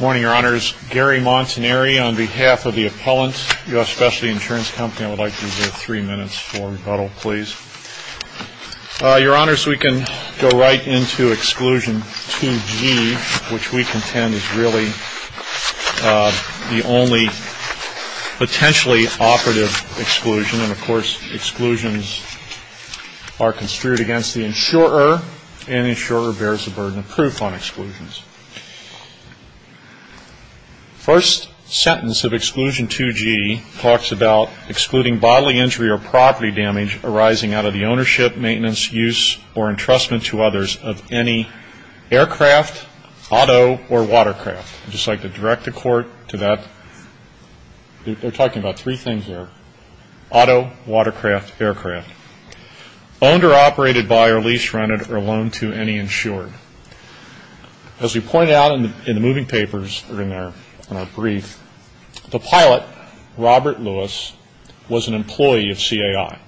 Morning, Your Honors. Gary Montaneri on behalf of the appellant, U.S. Specialty Insurance Company. I would like to reserve three minutes for rebuttal, please. Your Honors, we can go right into Exclusion 2G, which we contend is really the only potentially operative exclusion. And, of course, exclusions are construed against the insurer, and the insurer bears the burden of proof on exclusions. First sentence of Exclusion 2G talks about excluding bodily injury or property damage arising out of the ownership, maintenance, use, or entrustment to others of any aircraft, auto, or watercraft. I'd just like to direct the Court to that. They're talking about three things there, auto, watercraft, aircraft. Owned or operated by or lease-rented or loaned to any insured. As we pointed out in the moving papers or in our brief, the pilot, Robert Lewis, was an employee of CAI.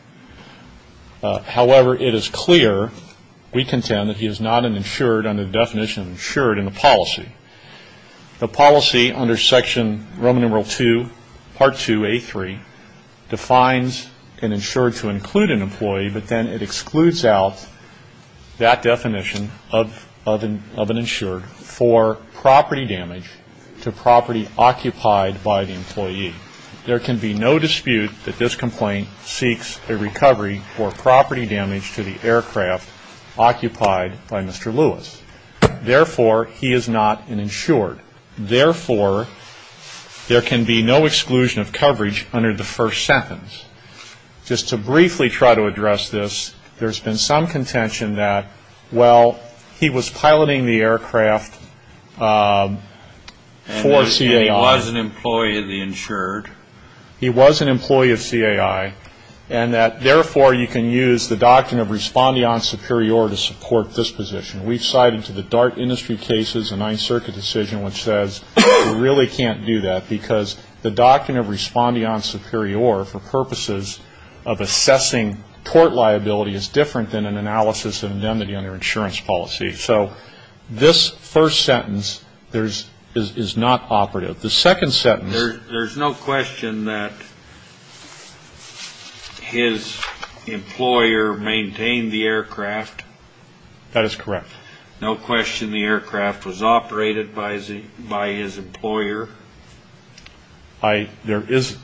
However, it is clear, we contend, that he is not an insured under the definition of insured in the policy. The policy under Section Roman numeral 2, Part 2, A3, defines an insured to include an employee, but then it excludes out that definition of an insured for property damage to property occupied by the employee. There can be no dispute that this complaint seeks a recovery for property damage to the aircraft occupied by Mr. Lewis. Therefore, he is not an insured. Therefore, there can be no exclusion of coverage under the first sentence. Just to briefly try to address this, there's been some contention that, well, he was piloting the aircraft for CAI. He was an employee of the insured. He was an employee of CAI. And that, therefore, you can use the doctrine of respondean superior to support this position. We've cited to the DART industry cases a Ninth Circuit decision which says you really can't do that because the doctrine of respondean superior for purposes of assessing tort liability is different than an analysis of indemnity under insurance policy. So this first sentence is not operative. The second sentence... There's no question that his employer maintained the aircraft. That is correct. No question the aircraft was operated by his employer. Yes, there's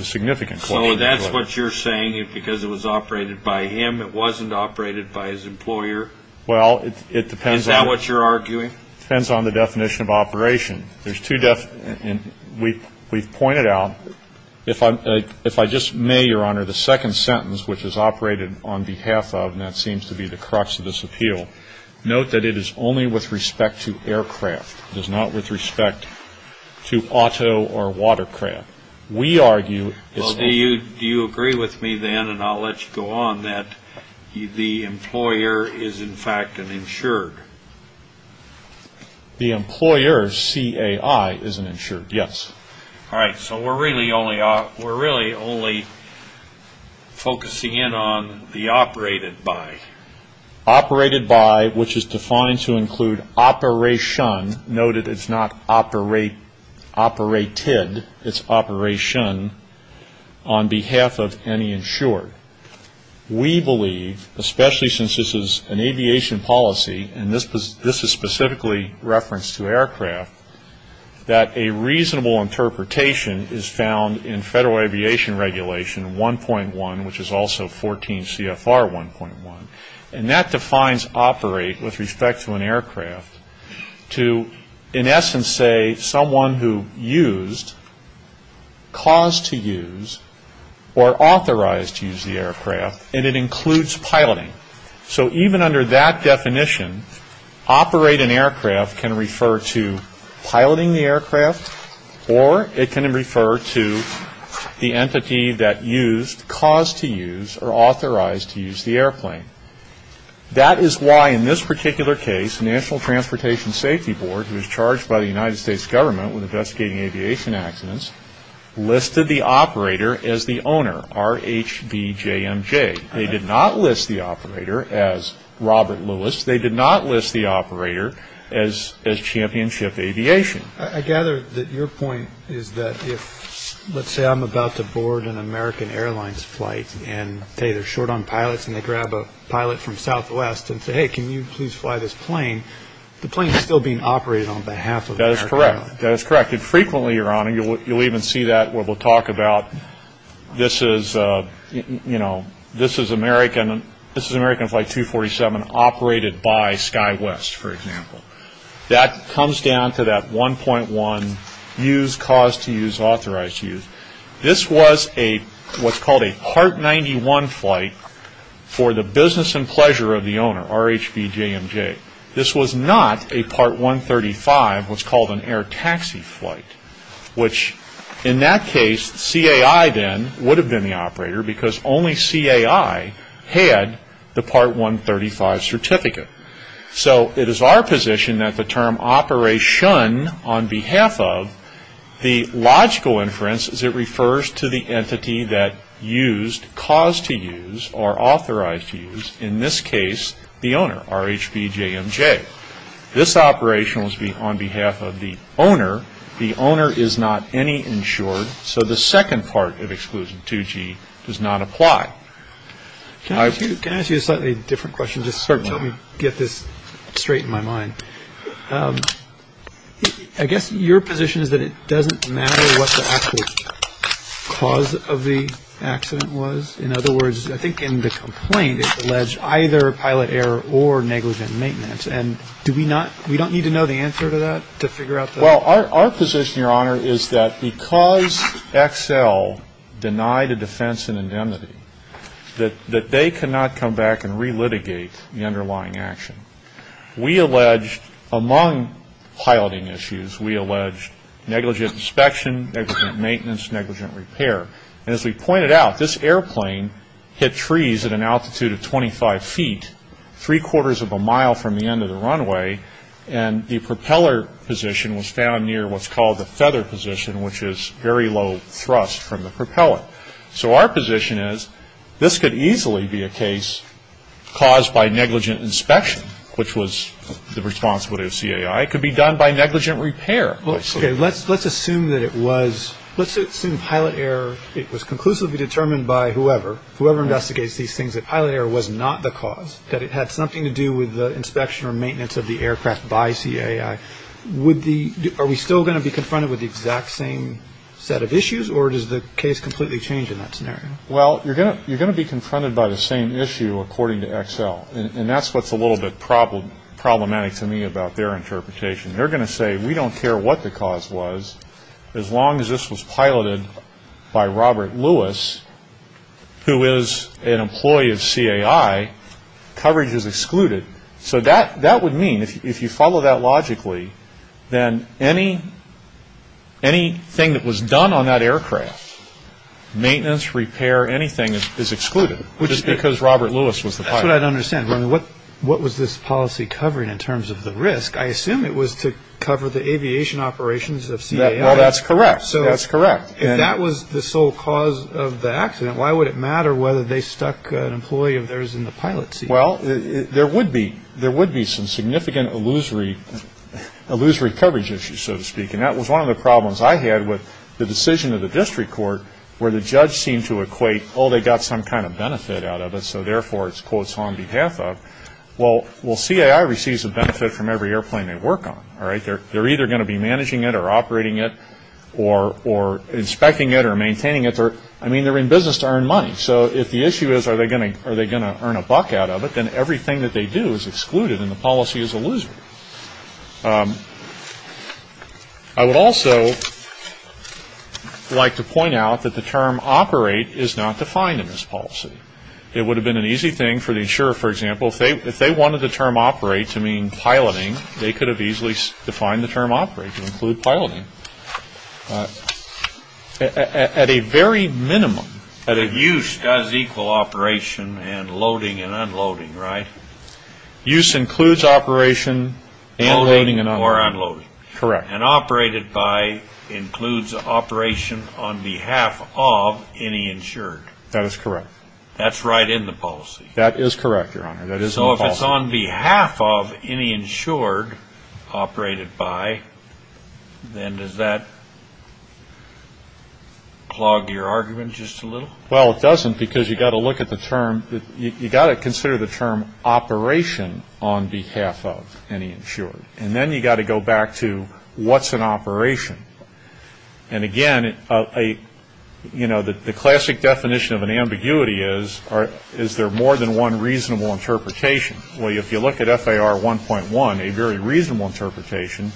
a significant claim to it. So that's what you're saying, because it was operated by him. It wasn't operated by his employer. Well, it depends on... Is that what you're arguing? It depends on the definition of operation. We've pointed out, if I just may, Your Honor, the second sentence, which is operated on behalf of, and that seems to be the crux of this appeal, note that it is only with respect to aircraft. It is not with respect to auto or watercraft. We argue... Well, do you agree with me then, and I'll let you go on, that the employer is, in fact, an insured? The employer, C-A-I, is an insured, yes. All right, so we're really only focusing in on the operated by. Operated by, which is defined to include operation. Note that it's not operated, it's operation on behalf of any insured. We believe, especially since this is an aviation policy, and this is specifically referenced to aircraft, that a reasonable interpretation is found in Federal Aviation Regulation 1.1, which is also 14 CFR 1.1, and that defines operate with respect to an aircraft to, in essence, say, someone who used, caused to use, or authorized to use the aircraft, and it includes piloting. So even under that definition, operate an aircraft can refer to piloting the aircraft, or it can refer to the entity that used, caused to use, or authorized to use the airplane. That is why, in this particular case, National Transportation Safety Board, who is charged by the United States government with investigating aviation accidents, listed the operator as the owner, R-H-B-J-M-J. They did not list the operator as Robert Lewis. They did not list the operator as Championship Aviation. I gather that your point is that if, let's say I'm about to board an American Airlines flight, and, say, they're short on pilots, and they grab a pilot from Southwest and say, hey, can you please fly this plane, the plane is still being operated on behalf of the airline. That is correct. That is correct, and frequently, Your Honor, you'll even see that where we'll talk about, this is American Flight 247 operated by SkyWest, for example. That comes down to that 1.1, use, caused to use, authorized to use. This was what's called a Part 91 flight for the business and pleasure of the owner, R-H-B-J-M-J. This was not a Part 135, what's called an air taxi flight, which, in that case, the CAI then would have been the operator because only CAI had the Part 135 certificate. So it is our position that the term operation, on behalf of, the logical inference is it refers to the entity that used, caused to use, or authorized to use, in this case, the owner, R-H-B-J-M-J. This operation was on behalf of the owner. The owner is not any insured, so the second part of Exclusion 2G does not apply. Wow. Can I ask you a slightly different question? Certainly. Just let me get this straight in my mind. I guess your position is that it doesn't matter what the actual cause of the accident was? In other words, I think in the complaint it's alleged either pilot error or negligent maintenance. And do we not, we don't need to know the answer to that to figure out that? Well, our position, Your Honor, is that because XL denied a defense in indemnity, that they cannot come back and relitigate the underlying action. We allege, among piloting issues, we allege negligent inspection, negligent maintenance, negligent repair. And as we pointed out, this airplane hit trees at an altitude of 25 feet, three-quarters of a mile from the end of the runway, and the propeller position was found near what's called the feather position, which is very low thrust from the propeller. So our position is this could easily be a case caused by negligent inspection, which was the responsibility of CAI. It could be done by negligent repair. Okay. Let's assume that it was, let's assume pilot error, it was conclusively determined by whoever, whoever investigates these things that pilot error was not the cause, that it had something to do with the inspection or maintenance of the aircraft by CAI. Would the, are we still going to be confronted with the exact same set of issues, or does the case completely change in that scenario? Well, you're going to be confronted by the same issue according to XL, and that's what's a little bit problematic to me about their interpretation. They're going to say we don't care what the cause was, as long as this was piloted by Robert Lewis, who is an employee of CAI, coverage is excluded. So that would mean if you follow that logically, then anything that was done on that aircraft, maintenance, repair, anything, is excluded, just because Robert Lewis was the pilot. That's what I don't understand. What was this policy covering in terms of the risk? I assume it was to cover the aviation operations of CAI. Well, that's correct. That's correct. If that was the sole cause of the accident, why would it matter whether they stuck an employee of theirs in the pilot seat? Well, there would be some significant illusory coverage issues, so to speak, and that was one of the problems I had with the decision of the district court, where the judge seemed to equate, oh, they got some kind of benefit out of it, so therefore it's, quote, on behalf of. Well, CAI receives a benefit from every airplane they work on, all right? They're either going to be managing it or operating it or inspecting it or maintaining it. I mean, they're in business to earn money, so if the issue is are they going to earn a buck out of it, then everything that they do is excluded and the policy is illusory. I would also like to point out that the term operate is not defined in this policy. It would have been an easy thing for the insurer, for example, if they wanted the term operate to mean piloting, they could have easily defined the term operate to include piloting. At a very minimum. But if use does equal operation and loading and unloading, right? Use includes operation and loading and unloading. Loading or unloading. Correct. And operated by includes operation on behalf of any insured. That is correct. That's right in the policy. That is correct, Your Honor. So if it's on behalf of any insured operated by, then does that clog your argument just a little? Well, it doesn't because you've got to look at the term. You've got to consider the term operation on behalf of any insured. And then you've got to go back to what's an operation. And, again, you know, the classic definition of an ambiguity is, is there more than one reasonable interpretation? Well, if you look at FAR 1.1, a very reasonable interpretation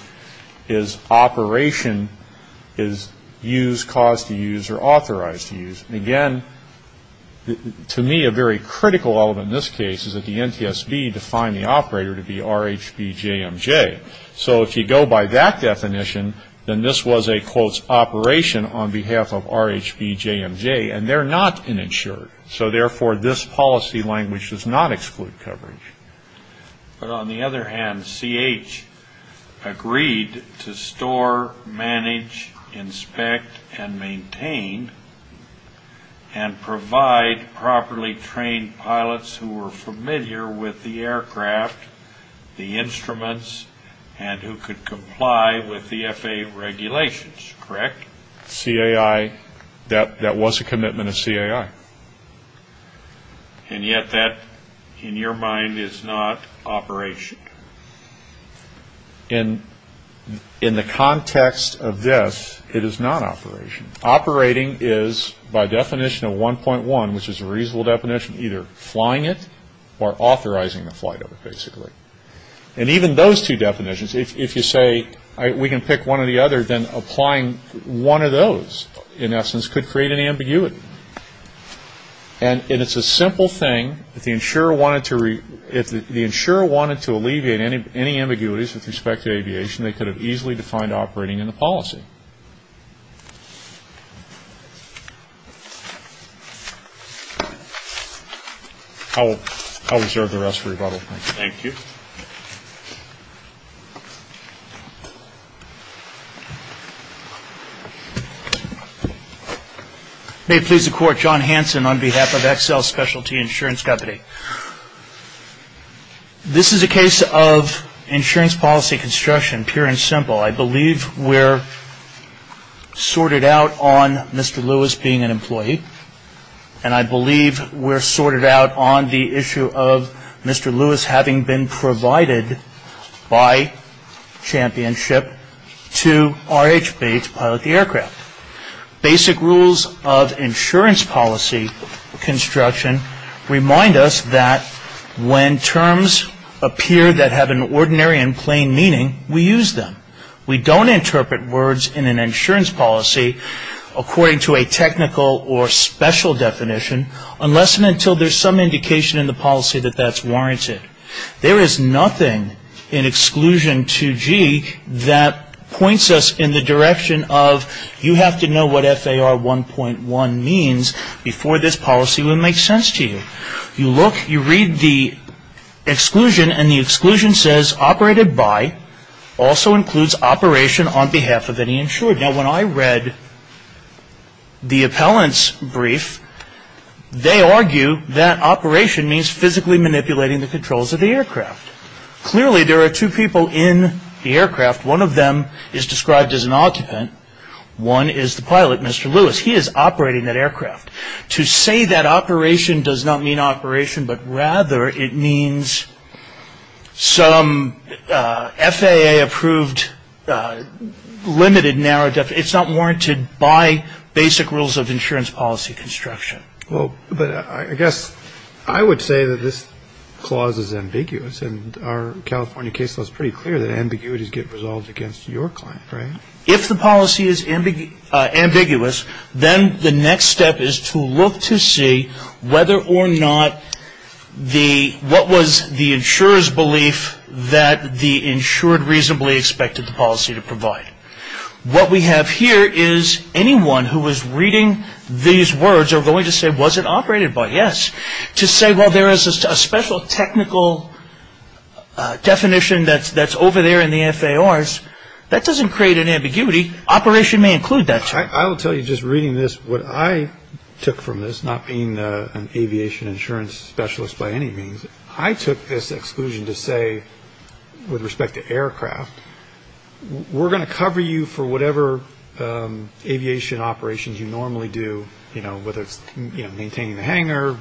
is operation is use, cause to use, or authorize to use. And, again, to me a very critical element in this case is that the NTSB defined the operator to be RHBJMJ. So if you go by that definition, then this was a, quote, operation on behalf of RHBJMJ. And they're not an insured. So, therefore, this policy language does not exclude coverage. But, on the other hand, CH agreed to store, manage, inspect, and maintain and provide properly trained pilots who were familiar with the aircraft, the instruments, and who could comply with the FAA regulations, correct? CAI, that was a commitment of CAI. And yet that, in your mind, is not operation. In the context of this, it is not operation. Operating is, by definition of 1.1, which is a reasonable definition, either flying it or authorizing the flight of it, basically. And even those two definitions, if you say we can pick one or the other, then applying one of those, in essence, could create an ambiguity. And it's a simple thing. If the insurer wanted to alleviate any ambiguities with respect to aviation, they could have easily defined operating in the policy. I'll reserve the rest for rebuttal. Thank you. May it please the Court, John Hanson on behalf of XL Specialty Insurance Company. This is a case of insurance policy construction, pure and simple. I believe we're sorted out on Mr. Lewis being an employee, and I believe we're sorted out on the issue of Mr. Lewis having been provided by Championship Basic rules of insurance policy construction remind us that when terms appear that have an ordinary and plain meaning, we use them. We don't interpret words in an insurance policy according to a technical or special definition unless and until there's some indication in the policy that that's warranted. There is nothing in Exclusion 2G that points us in the direction of, you have to know what FAR 1.1 means before this policy would make sense to you. You look, you read the exclusion, and the exclusion says, operated by also includes operation on behalf of any insured. Now, when I read the appellant's brief, they argue that operation means physically manipulating the controls of the aircraft. Clearly, there are two people in the aircraft. One of them is described as an occupant. One is the pilot, Mr. Lewis. He is operating that aircraft. To say that operation does not mean operation, but rather it means some FAA-approved, limited narrow definition. It's not warranted by basic rules of insurance policy construction. Well, but I guess I would say that this clause is ambiguous, and our California case law is pretty clear that ambiguities get resolved against your client, right? If the policy is ambiguous, then the next step is to look to see whether or not the, what was the insurer's belief that the insured reasonably expected the policy to provide. What we have here is anyone who is reading these words are going to say, was it operated by? Yes. To say, well, there is a special technical definition that's over there in the FARs, that doesn't create an ambiguity. Operation may include that term. I will tell you just reading this, what I took from this, not being an aviation insurance specialist by any means, I took this exclusion to say with respect to aircraft, we're going to cover you for whatever aviation operations you normally do, whether it's maintaining the hangar,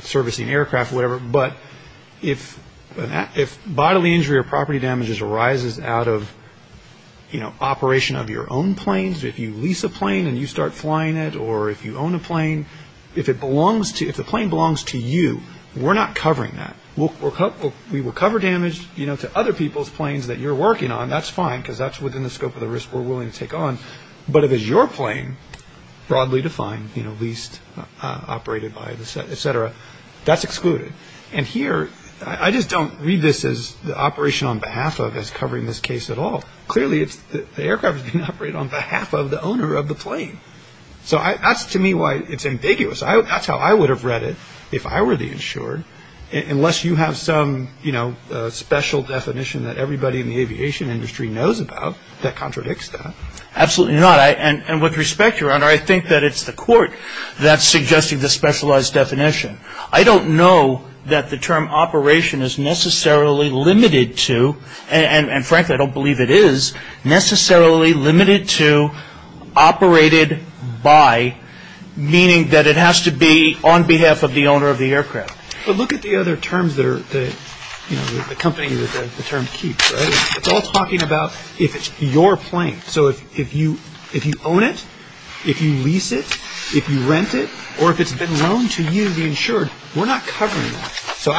servicing aircraft, whatever. But if bodily injury or property damages arises out of operation of your own planes, if you lease a plane and you start flying it or if you own a plane, if the plane belongs to you, we're not covering that. We will cover damage to other people's planes that you're working on, that's fine, because that's within the scope of the risk we're willing to take on. But if it's your plane, broadly defined, leased, operated by, et cetera, that's excluded. And here, I just don't read this as the operation on behalf of is covering this case at all. Clearly, the aircraft is being operated on behalf of the owner of the plane. So that's to me why it's ambiguous. That's how I would have read it if I were the insured, unless you have some special definition that everybody in the aviation industry knows about that contradicts that. Absolutely not. And with respect, Your Honor, I think that it's the court that's suggesting this specialized definition. I don't know that the term operation is necessarily limited to, and frankly, I don't believe it is necessarily limited to operated by, meaning that it has to be on behalf of the owner of the aircraft. But look at the other terms that are, you know, the company that the term keeps, right? It's all talking about if it's your plane. So if you own it, if you lease it, if you rent it, or if it's been loaned to you, the insured, we're not covering that. So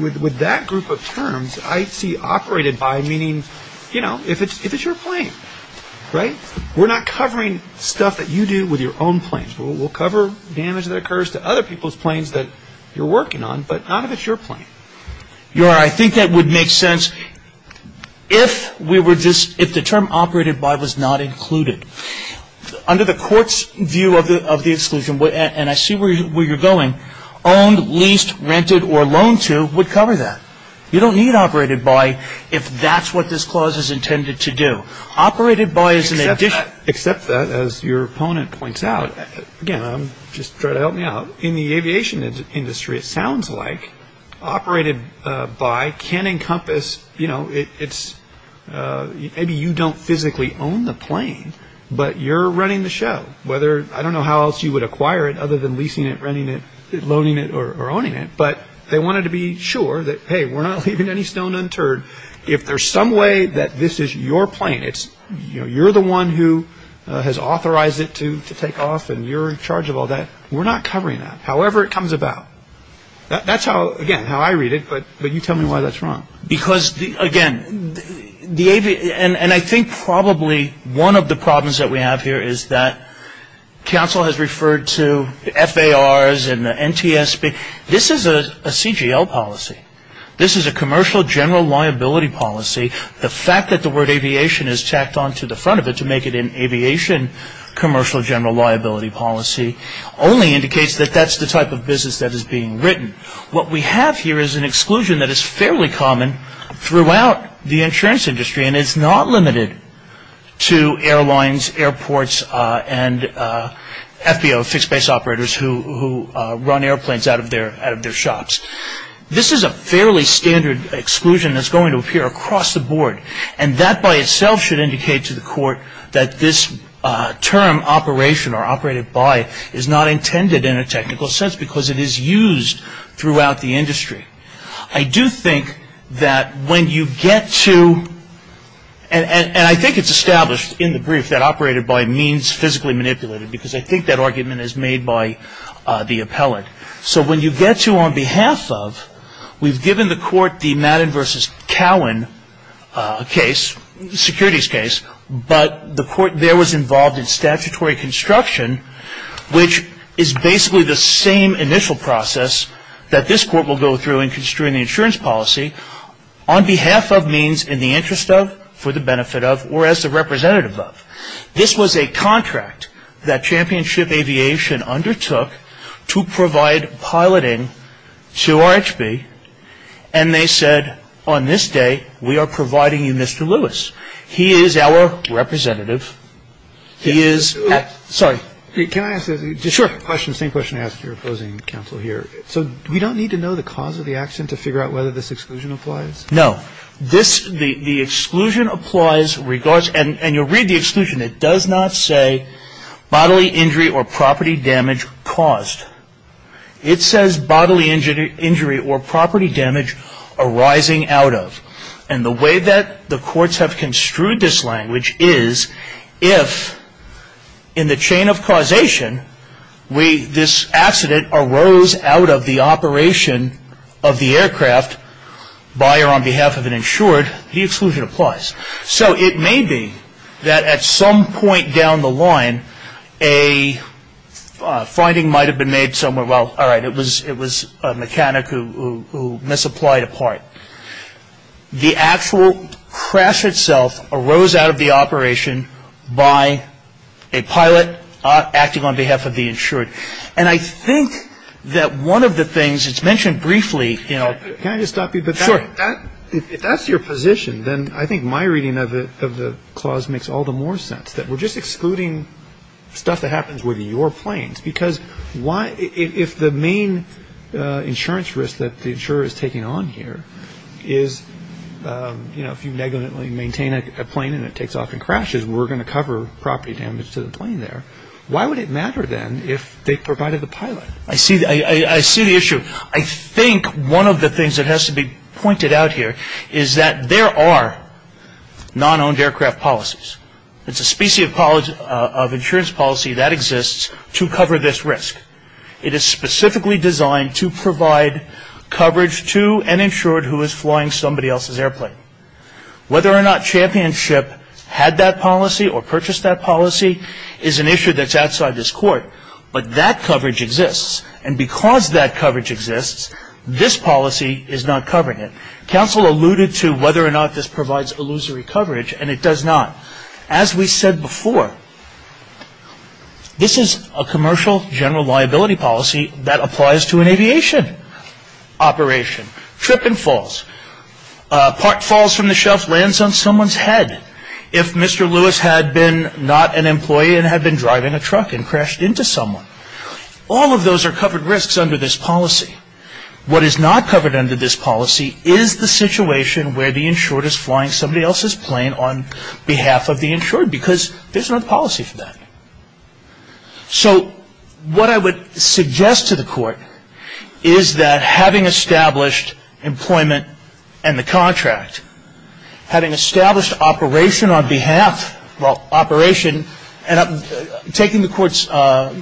with that group of terms, I see operated by meaning, you know, if it's your plane, right? We're not covering stuff that you do with your own planes. We'll cover damage that occurs to other people's planes that you're working on, but not if it's your plane. Your Honor, I think that would make sense if the term operated by was not included. Under the court's view of the exclusion, and I see where you're going, owned, leased, rented, or loaned to would cover that. You don't need operated by if that's what this clause is intended to do. Operated by is an addition. Except that, as your opponent points out, again, just try to help me out. In the aviation industry, it sounds like operated by can encompass, you know, it's maybe you don't physically own the plane, but you're running the show. I don't know how else you would acquire it other than leasing it, renting it, loaning it, or owning it, but they wanted to be sure that, hey, we're not leaving any stone unturned. If there's some way that this is your plane, you're the one who has authorized it to take off, and you're in charge of all that, we're not covering that, however it comes about. That's how, again, how I read it, but you tell me why that's wrong. Because, again, and I think probably one of the problems that we have here is that counsel has referred to FARs and the NTSB. This is a CGL policy. This is a commercial general liability policy. The fact that the word aviation is tacked onto the front of it to make it an aviation commercial general liability policy only indicates that that's the type of business that is being written. What we have here is an exclusion that is fairly common throughout the insurance industry, and it's not limited to airlines, airports, and FBO, fixed base operators, who run airplanes out of their shops. This is a fairly standard exclusion that's going to appear across the board, and that by itself should indicate to the court that this term, operation or operated by, is not intended in a technical sense because it is used throughout the industry. I do think that when you get to, and I think it's established in the brief that operated by means physically manipulated because I think that argument is made by the appellant. So when you get to on behalf of, we've given the court the Madden v. Cowan case, securities case, but the court there was involved in statutory construction, which is basically the same initial process that this court will go through in construing the insurance policy on behalf of means in the interest of, for the benefit of, or as the representative of. This was a contract that Championship Aviation undertook to provide piloting to RHB, and they said, on this day, we are providing you Mr. Lewis. He is our representative. He is, sorry. Can I ask a question, same question I asked your opposing counsel here. So we don't need to know the cause of the accident to figure out whether this exclusion applies? No. This, the exclusion applies, and you'll read the exclusion. It does not say bodily injury or property damage caused. It says bodily injury or property damage arising out of. And the way that the courts have construed this language is if, in the chain of causation, this accident arose out of the operation of the aircraft by or on behalf of an insured, the exclusion applies. So it may be that at some point down the line, a finding might have been made somewhere, well, all right, it was a mechanic who misapplied a part. The actual crash itself arose out of the operation by a pilot acting on behalf of the insured. And I think that one of the things, it's mentioned briefly. Can I just stop you? Sure. If that's your position, then I think my reading of the clause makes all the more sense, that we're just excluding stuff that happens with your planes. Because if the main insurance risk that the insurer is taking on here is, you know, if you negligently maintain a plane and it takes off and crashes, we're going to cover property damage to the plane there. Why would it matter, then, if they provided the pilot? I see the issue. I think one of the things that has to be pointed out here is that there are non-owned aircraft policies. It's a specie of insurance policy that exists to cover this risk. It is specifically designed to provide coverage to an insured who is flying somebody else's airplane. Whether or not Championship had that policy or purchased that policy is an issue that's outside this court. But that coverage exists. And because that coverage exists, this policy is not covering it. Counsel alluded to whether or not this provides illusory coverage, and it does not. As we said before, this is a commercial general liability policy that applies to an aviation operation. Trip and falls. Part falls from the shelf, lands on someone's head. If Mr. Lewis had been not an employee and had been driving a truck and crashed into someone. All of those are covered risks under this policy. What is not covered under this policy is the situation where the insured is flying somebody else's plane on behalf of the insured. Because there's no policy for that. So what I would suggest to the court is that having established employment and the contract, having established operation on behalf of operation, and taking the court's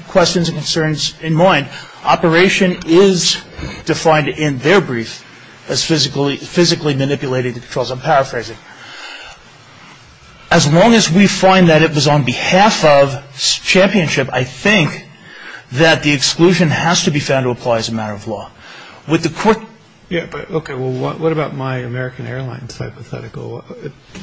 questions and concerns in mind, operation is defined in their brief as physically physically manipulated controls. I'm paraphrasing. As long as we find that it was on behalf of Championship, I think that the exclusion has to be found to apply as a matter of law. With the court. Yeah. OK. Well, what about my American Airlines hypothetical?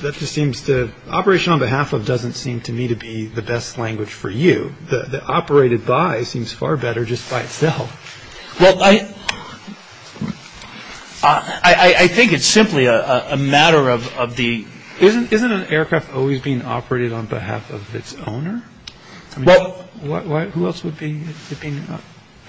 That just seems to operation on behalf of doesn't seem to me to be the best language for you. The operated by seems far better just by itself. Well, I think it's simply a matter of of the isn't isn't an aircraft always being operated on behalf of its owner? Well, who else would be?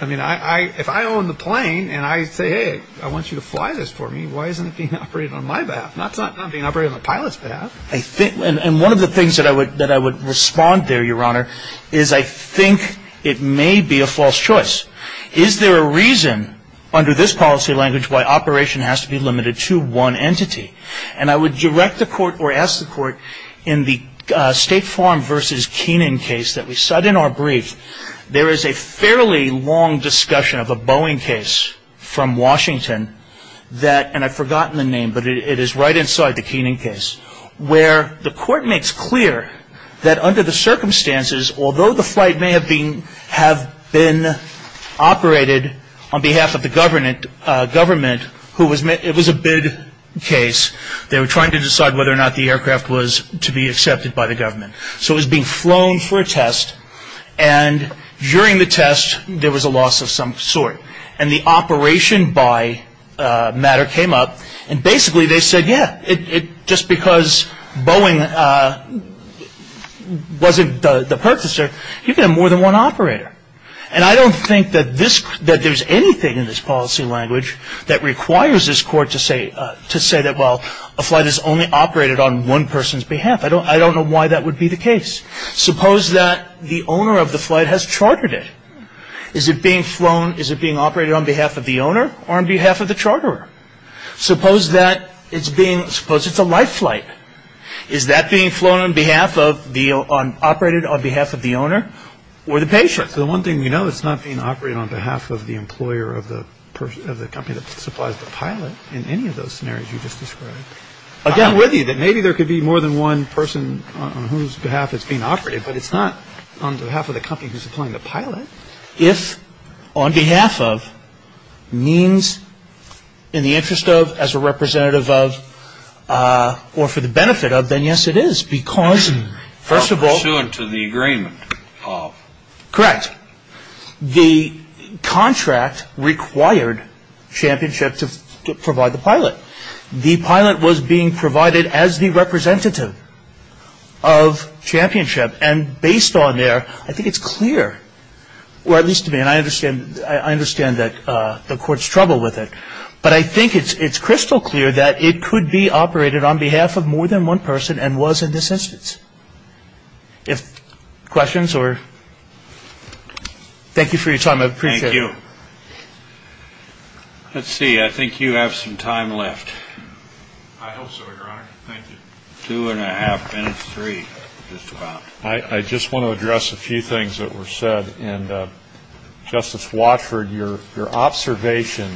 I mean, I if I own the plane and I say, hey, I want you to fly this for me. Why isn't it being operated on my behalf? That's not being operated on the pilot's behalf. I think one of the things that I would that I would respond there, Your Honor, is I think it may be a false choice. Is there a reason under this policy language why operation has to be limited to one entity? And I would direct the court or ask the court in the State Farm versus Keenan case that we said in our brief, there is a fairly long discussion of a Boeing case from Washington that and I've forgotten the name, but it is right inside the Keenan case where the court makes clear that under the circumstances, although the flight may have been have been operated on behalf of the government, government who was it was a big case, they were trying to decide whether or not the aircraft was to be accepted by the government. So it was being flown for a test. And during the test, there was a loss of some sort. And the operation by matter came up. And basically, they said, yeah, just because Boeing wasn't the purchaser, you can have more than one operator. And I don't think that there's anything in this policy language that requires this court to say that, well, a flight is only operated on one person's behalf. I don't know why that would be the case. Suppose that the owner of the flight has chartered it. Is it being flown? Is it being operated on behalf of the owner or on behalf of the charterer? Suppose that it's being – suppose it's a life flight. Is that being flown on behalf of the – operated on behalf of the owner or the patient? The one thing we know, it's not being operated on behalf of the employer of the person – of the company that supplies the pilot in any of those scenarios you just described. I'm with you that maybe there could be more than one person on whose behalf it's being operated, but it's not on behalf of the company who's supplying the pilot. If on behalf of means in the interest of, as a representative of, or for the benefit of, then yes, it is. Because, first of all – Pursuant to the agreement of. Correct. The contract required Championship to provide the pilot. The pilot was being provided as the representative of Championship. And based on there, I think it's clear. Or at least to me, and I understand that the court's trouble with it. But I think it's crystal clear that it could be operated on behalf of more than one person and was in this instance. If – questions or – thank you for your time. I appreciate it. Thank you. Let's see. I think you have some time left. I hope so, Your Honor. Thank you. Two and a half minutes. Three, just about. I just want to address a few things that were said. Justice Watford, your observation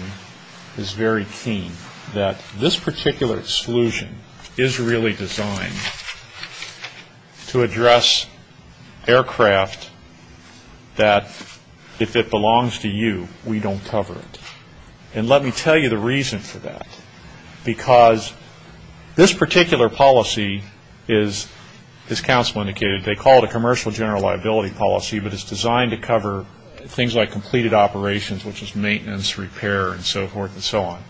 is very keen. That this particular exclusion is really designed to address aircraft that, if it belongs to you, we don't cover it. And let me tell you the reason for that. Because this particular policy is, as counsel indicated, they call it a commercial general liability policy. But it's designed to cover things like completed operations, which is maintenance, repair, and so forth and so on.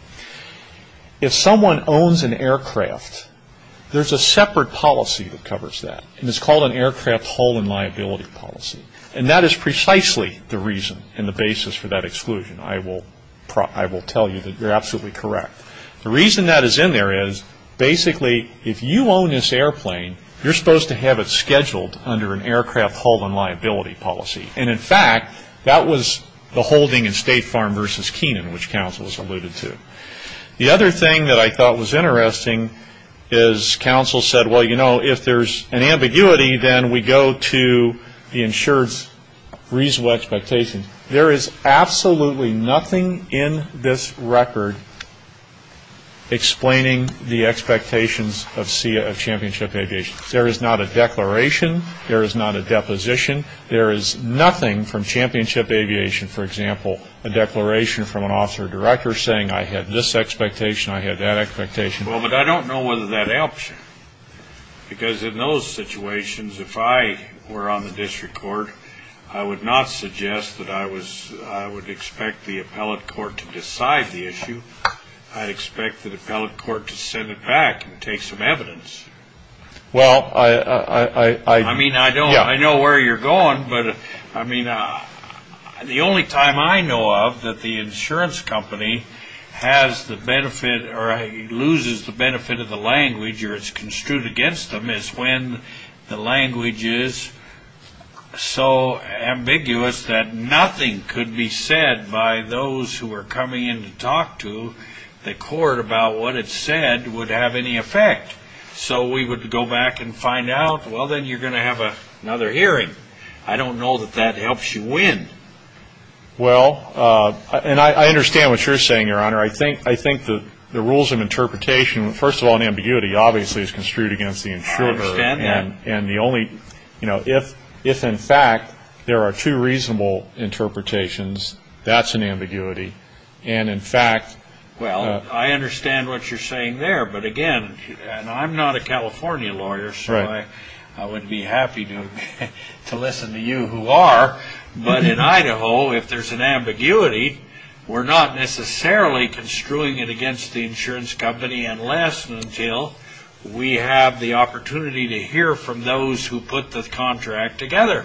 If someone owns an aircraft, there's a separate policy that covers that. And it's called an aircraft haul-in liability policy. And that is precisely the reason and the basis for that exclusion. I will tell you that you're absolutely correct. The reason that is in there is, basically, if you own this airplane, you're supposed to have it scheduled under an aircraft haul-in liability policy. And, in fact, that was the holding in State Farm versus Kenan, which counsel has alluded to. The other thing that I thought was interesting is counsel said, well, you know, if there's an ambiguity, then we go to the insured's reasonable expectations. There is absolutely nothing in this record explaining the expectations of CHAMPIONSHIP Aviation. There is not a declaration. There is not a deposition. There is nothing from CHAMPIONSHIP Aviation, for example, a declaration from an officer director saying I had this expectation, I had that expectation. Well, but I don't know whether that helps you. Because in those situations, if I were on the district court, I would not suggest that I would expect the appellate court to decide the issue. I'd expect the appellate court to send it back and take some evidence. Well, I – I mean, I know where you're going. But, I mean, the only time I know of that the insurance company has the benefit or loses the benefit of the language or is construed against them is when the language is so ambiguous that nothing could be said by those who are coming in to talk to the court about what it said would have any effect. So we would go back and find out, well, then you're going to have another hearing. I don't know that that helps you win. Well, and I understand what you're saying, Your Honor. I think the rules of interpretation, first of all, in ambiguity, obviously is construed against the insurer. I understand that. And the only – you know, if in fact there are two reasonable interpretations, that's an ambiguity. And in fact – Well, I understand what you're saying there. But, again, and I'm not a California lawyer, so I wouldn't be happy to listen to you who are. But in Idaho, if there's an ambiguity, we're not necessarily construing it against the insurance company unless and until we have the opportunity to hear from those who put the contract together.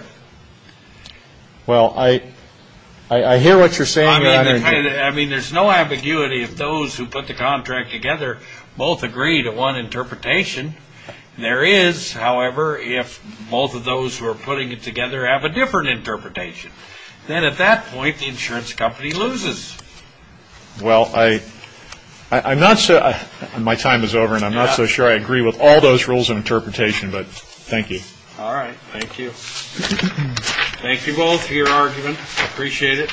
Well, I hear what you're saying, Your Honor. I mean, there's no ambiguity if those who put the contract together both agree to one interpretation. There is, however, if both of those who are putting it together have a different interpretation. Then at that point, the insurance company loses. Well, I'm not – my time is over, and I'm not so sure I agree with all those rules of interpretation. But thank you. All right. Thank you. Thank you both for your argument. I appreciate it.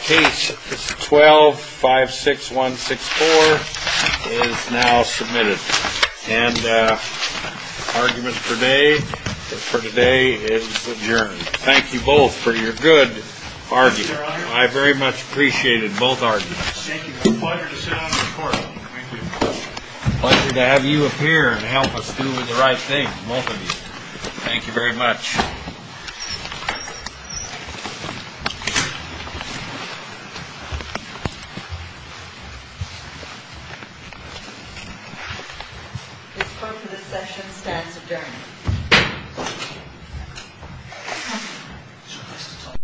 Case 12-56164 is now submitted. And argument for today is adjourned. Thank you both for your good argument. Thank you, Your Honor. I very much appreciated both arguments. Thank you. Pleasure to sit on the Court. Thank you. Pleasure to have you appear and help us do the right thing, both of you. Thank you very much. Thank you. This point of the session stands adjourned.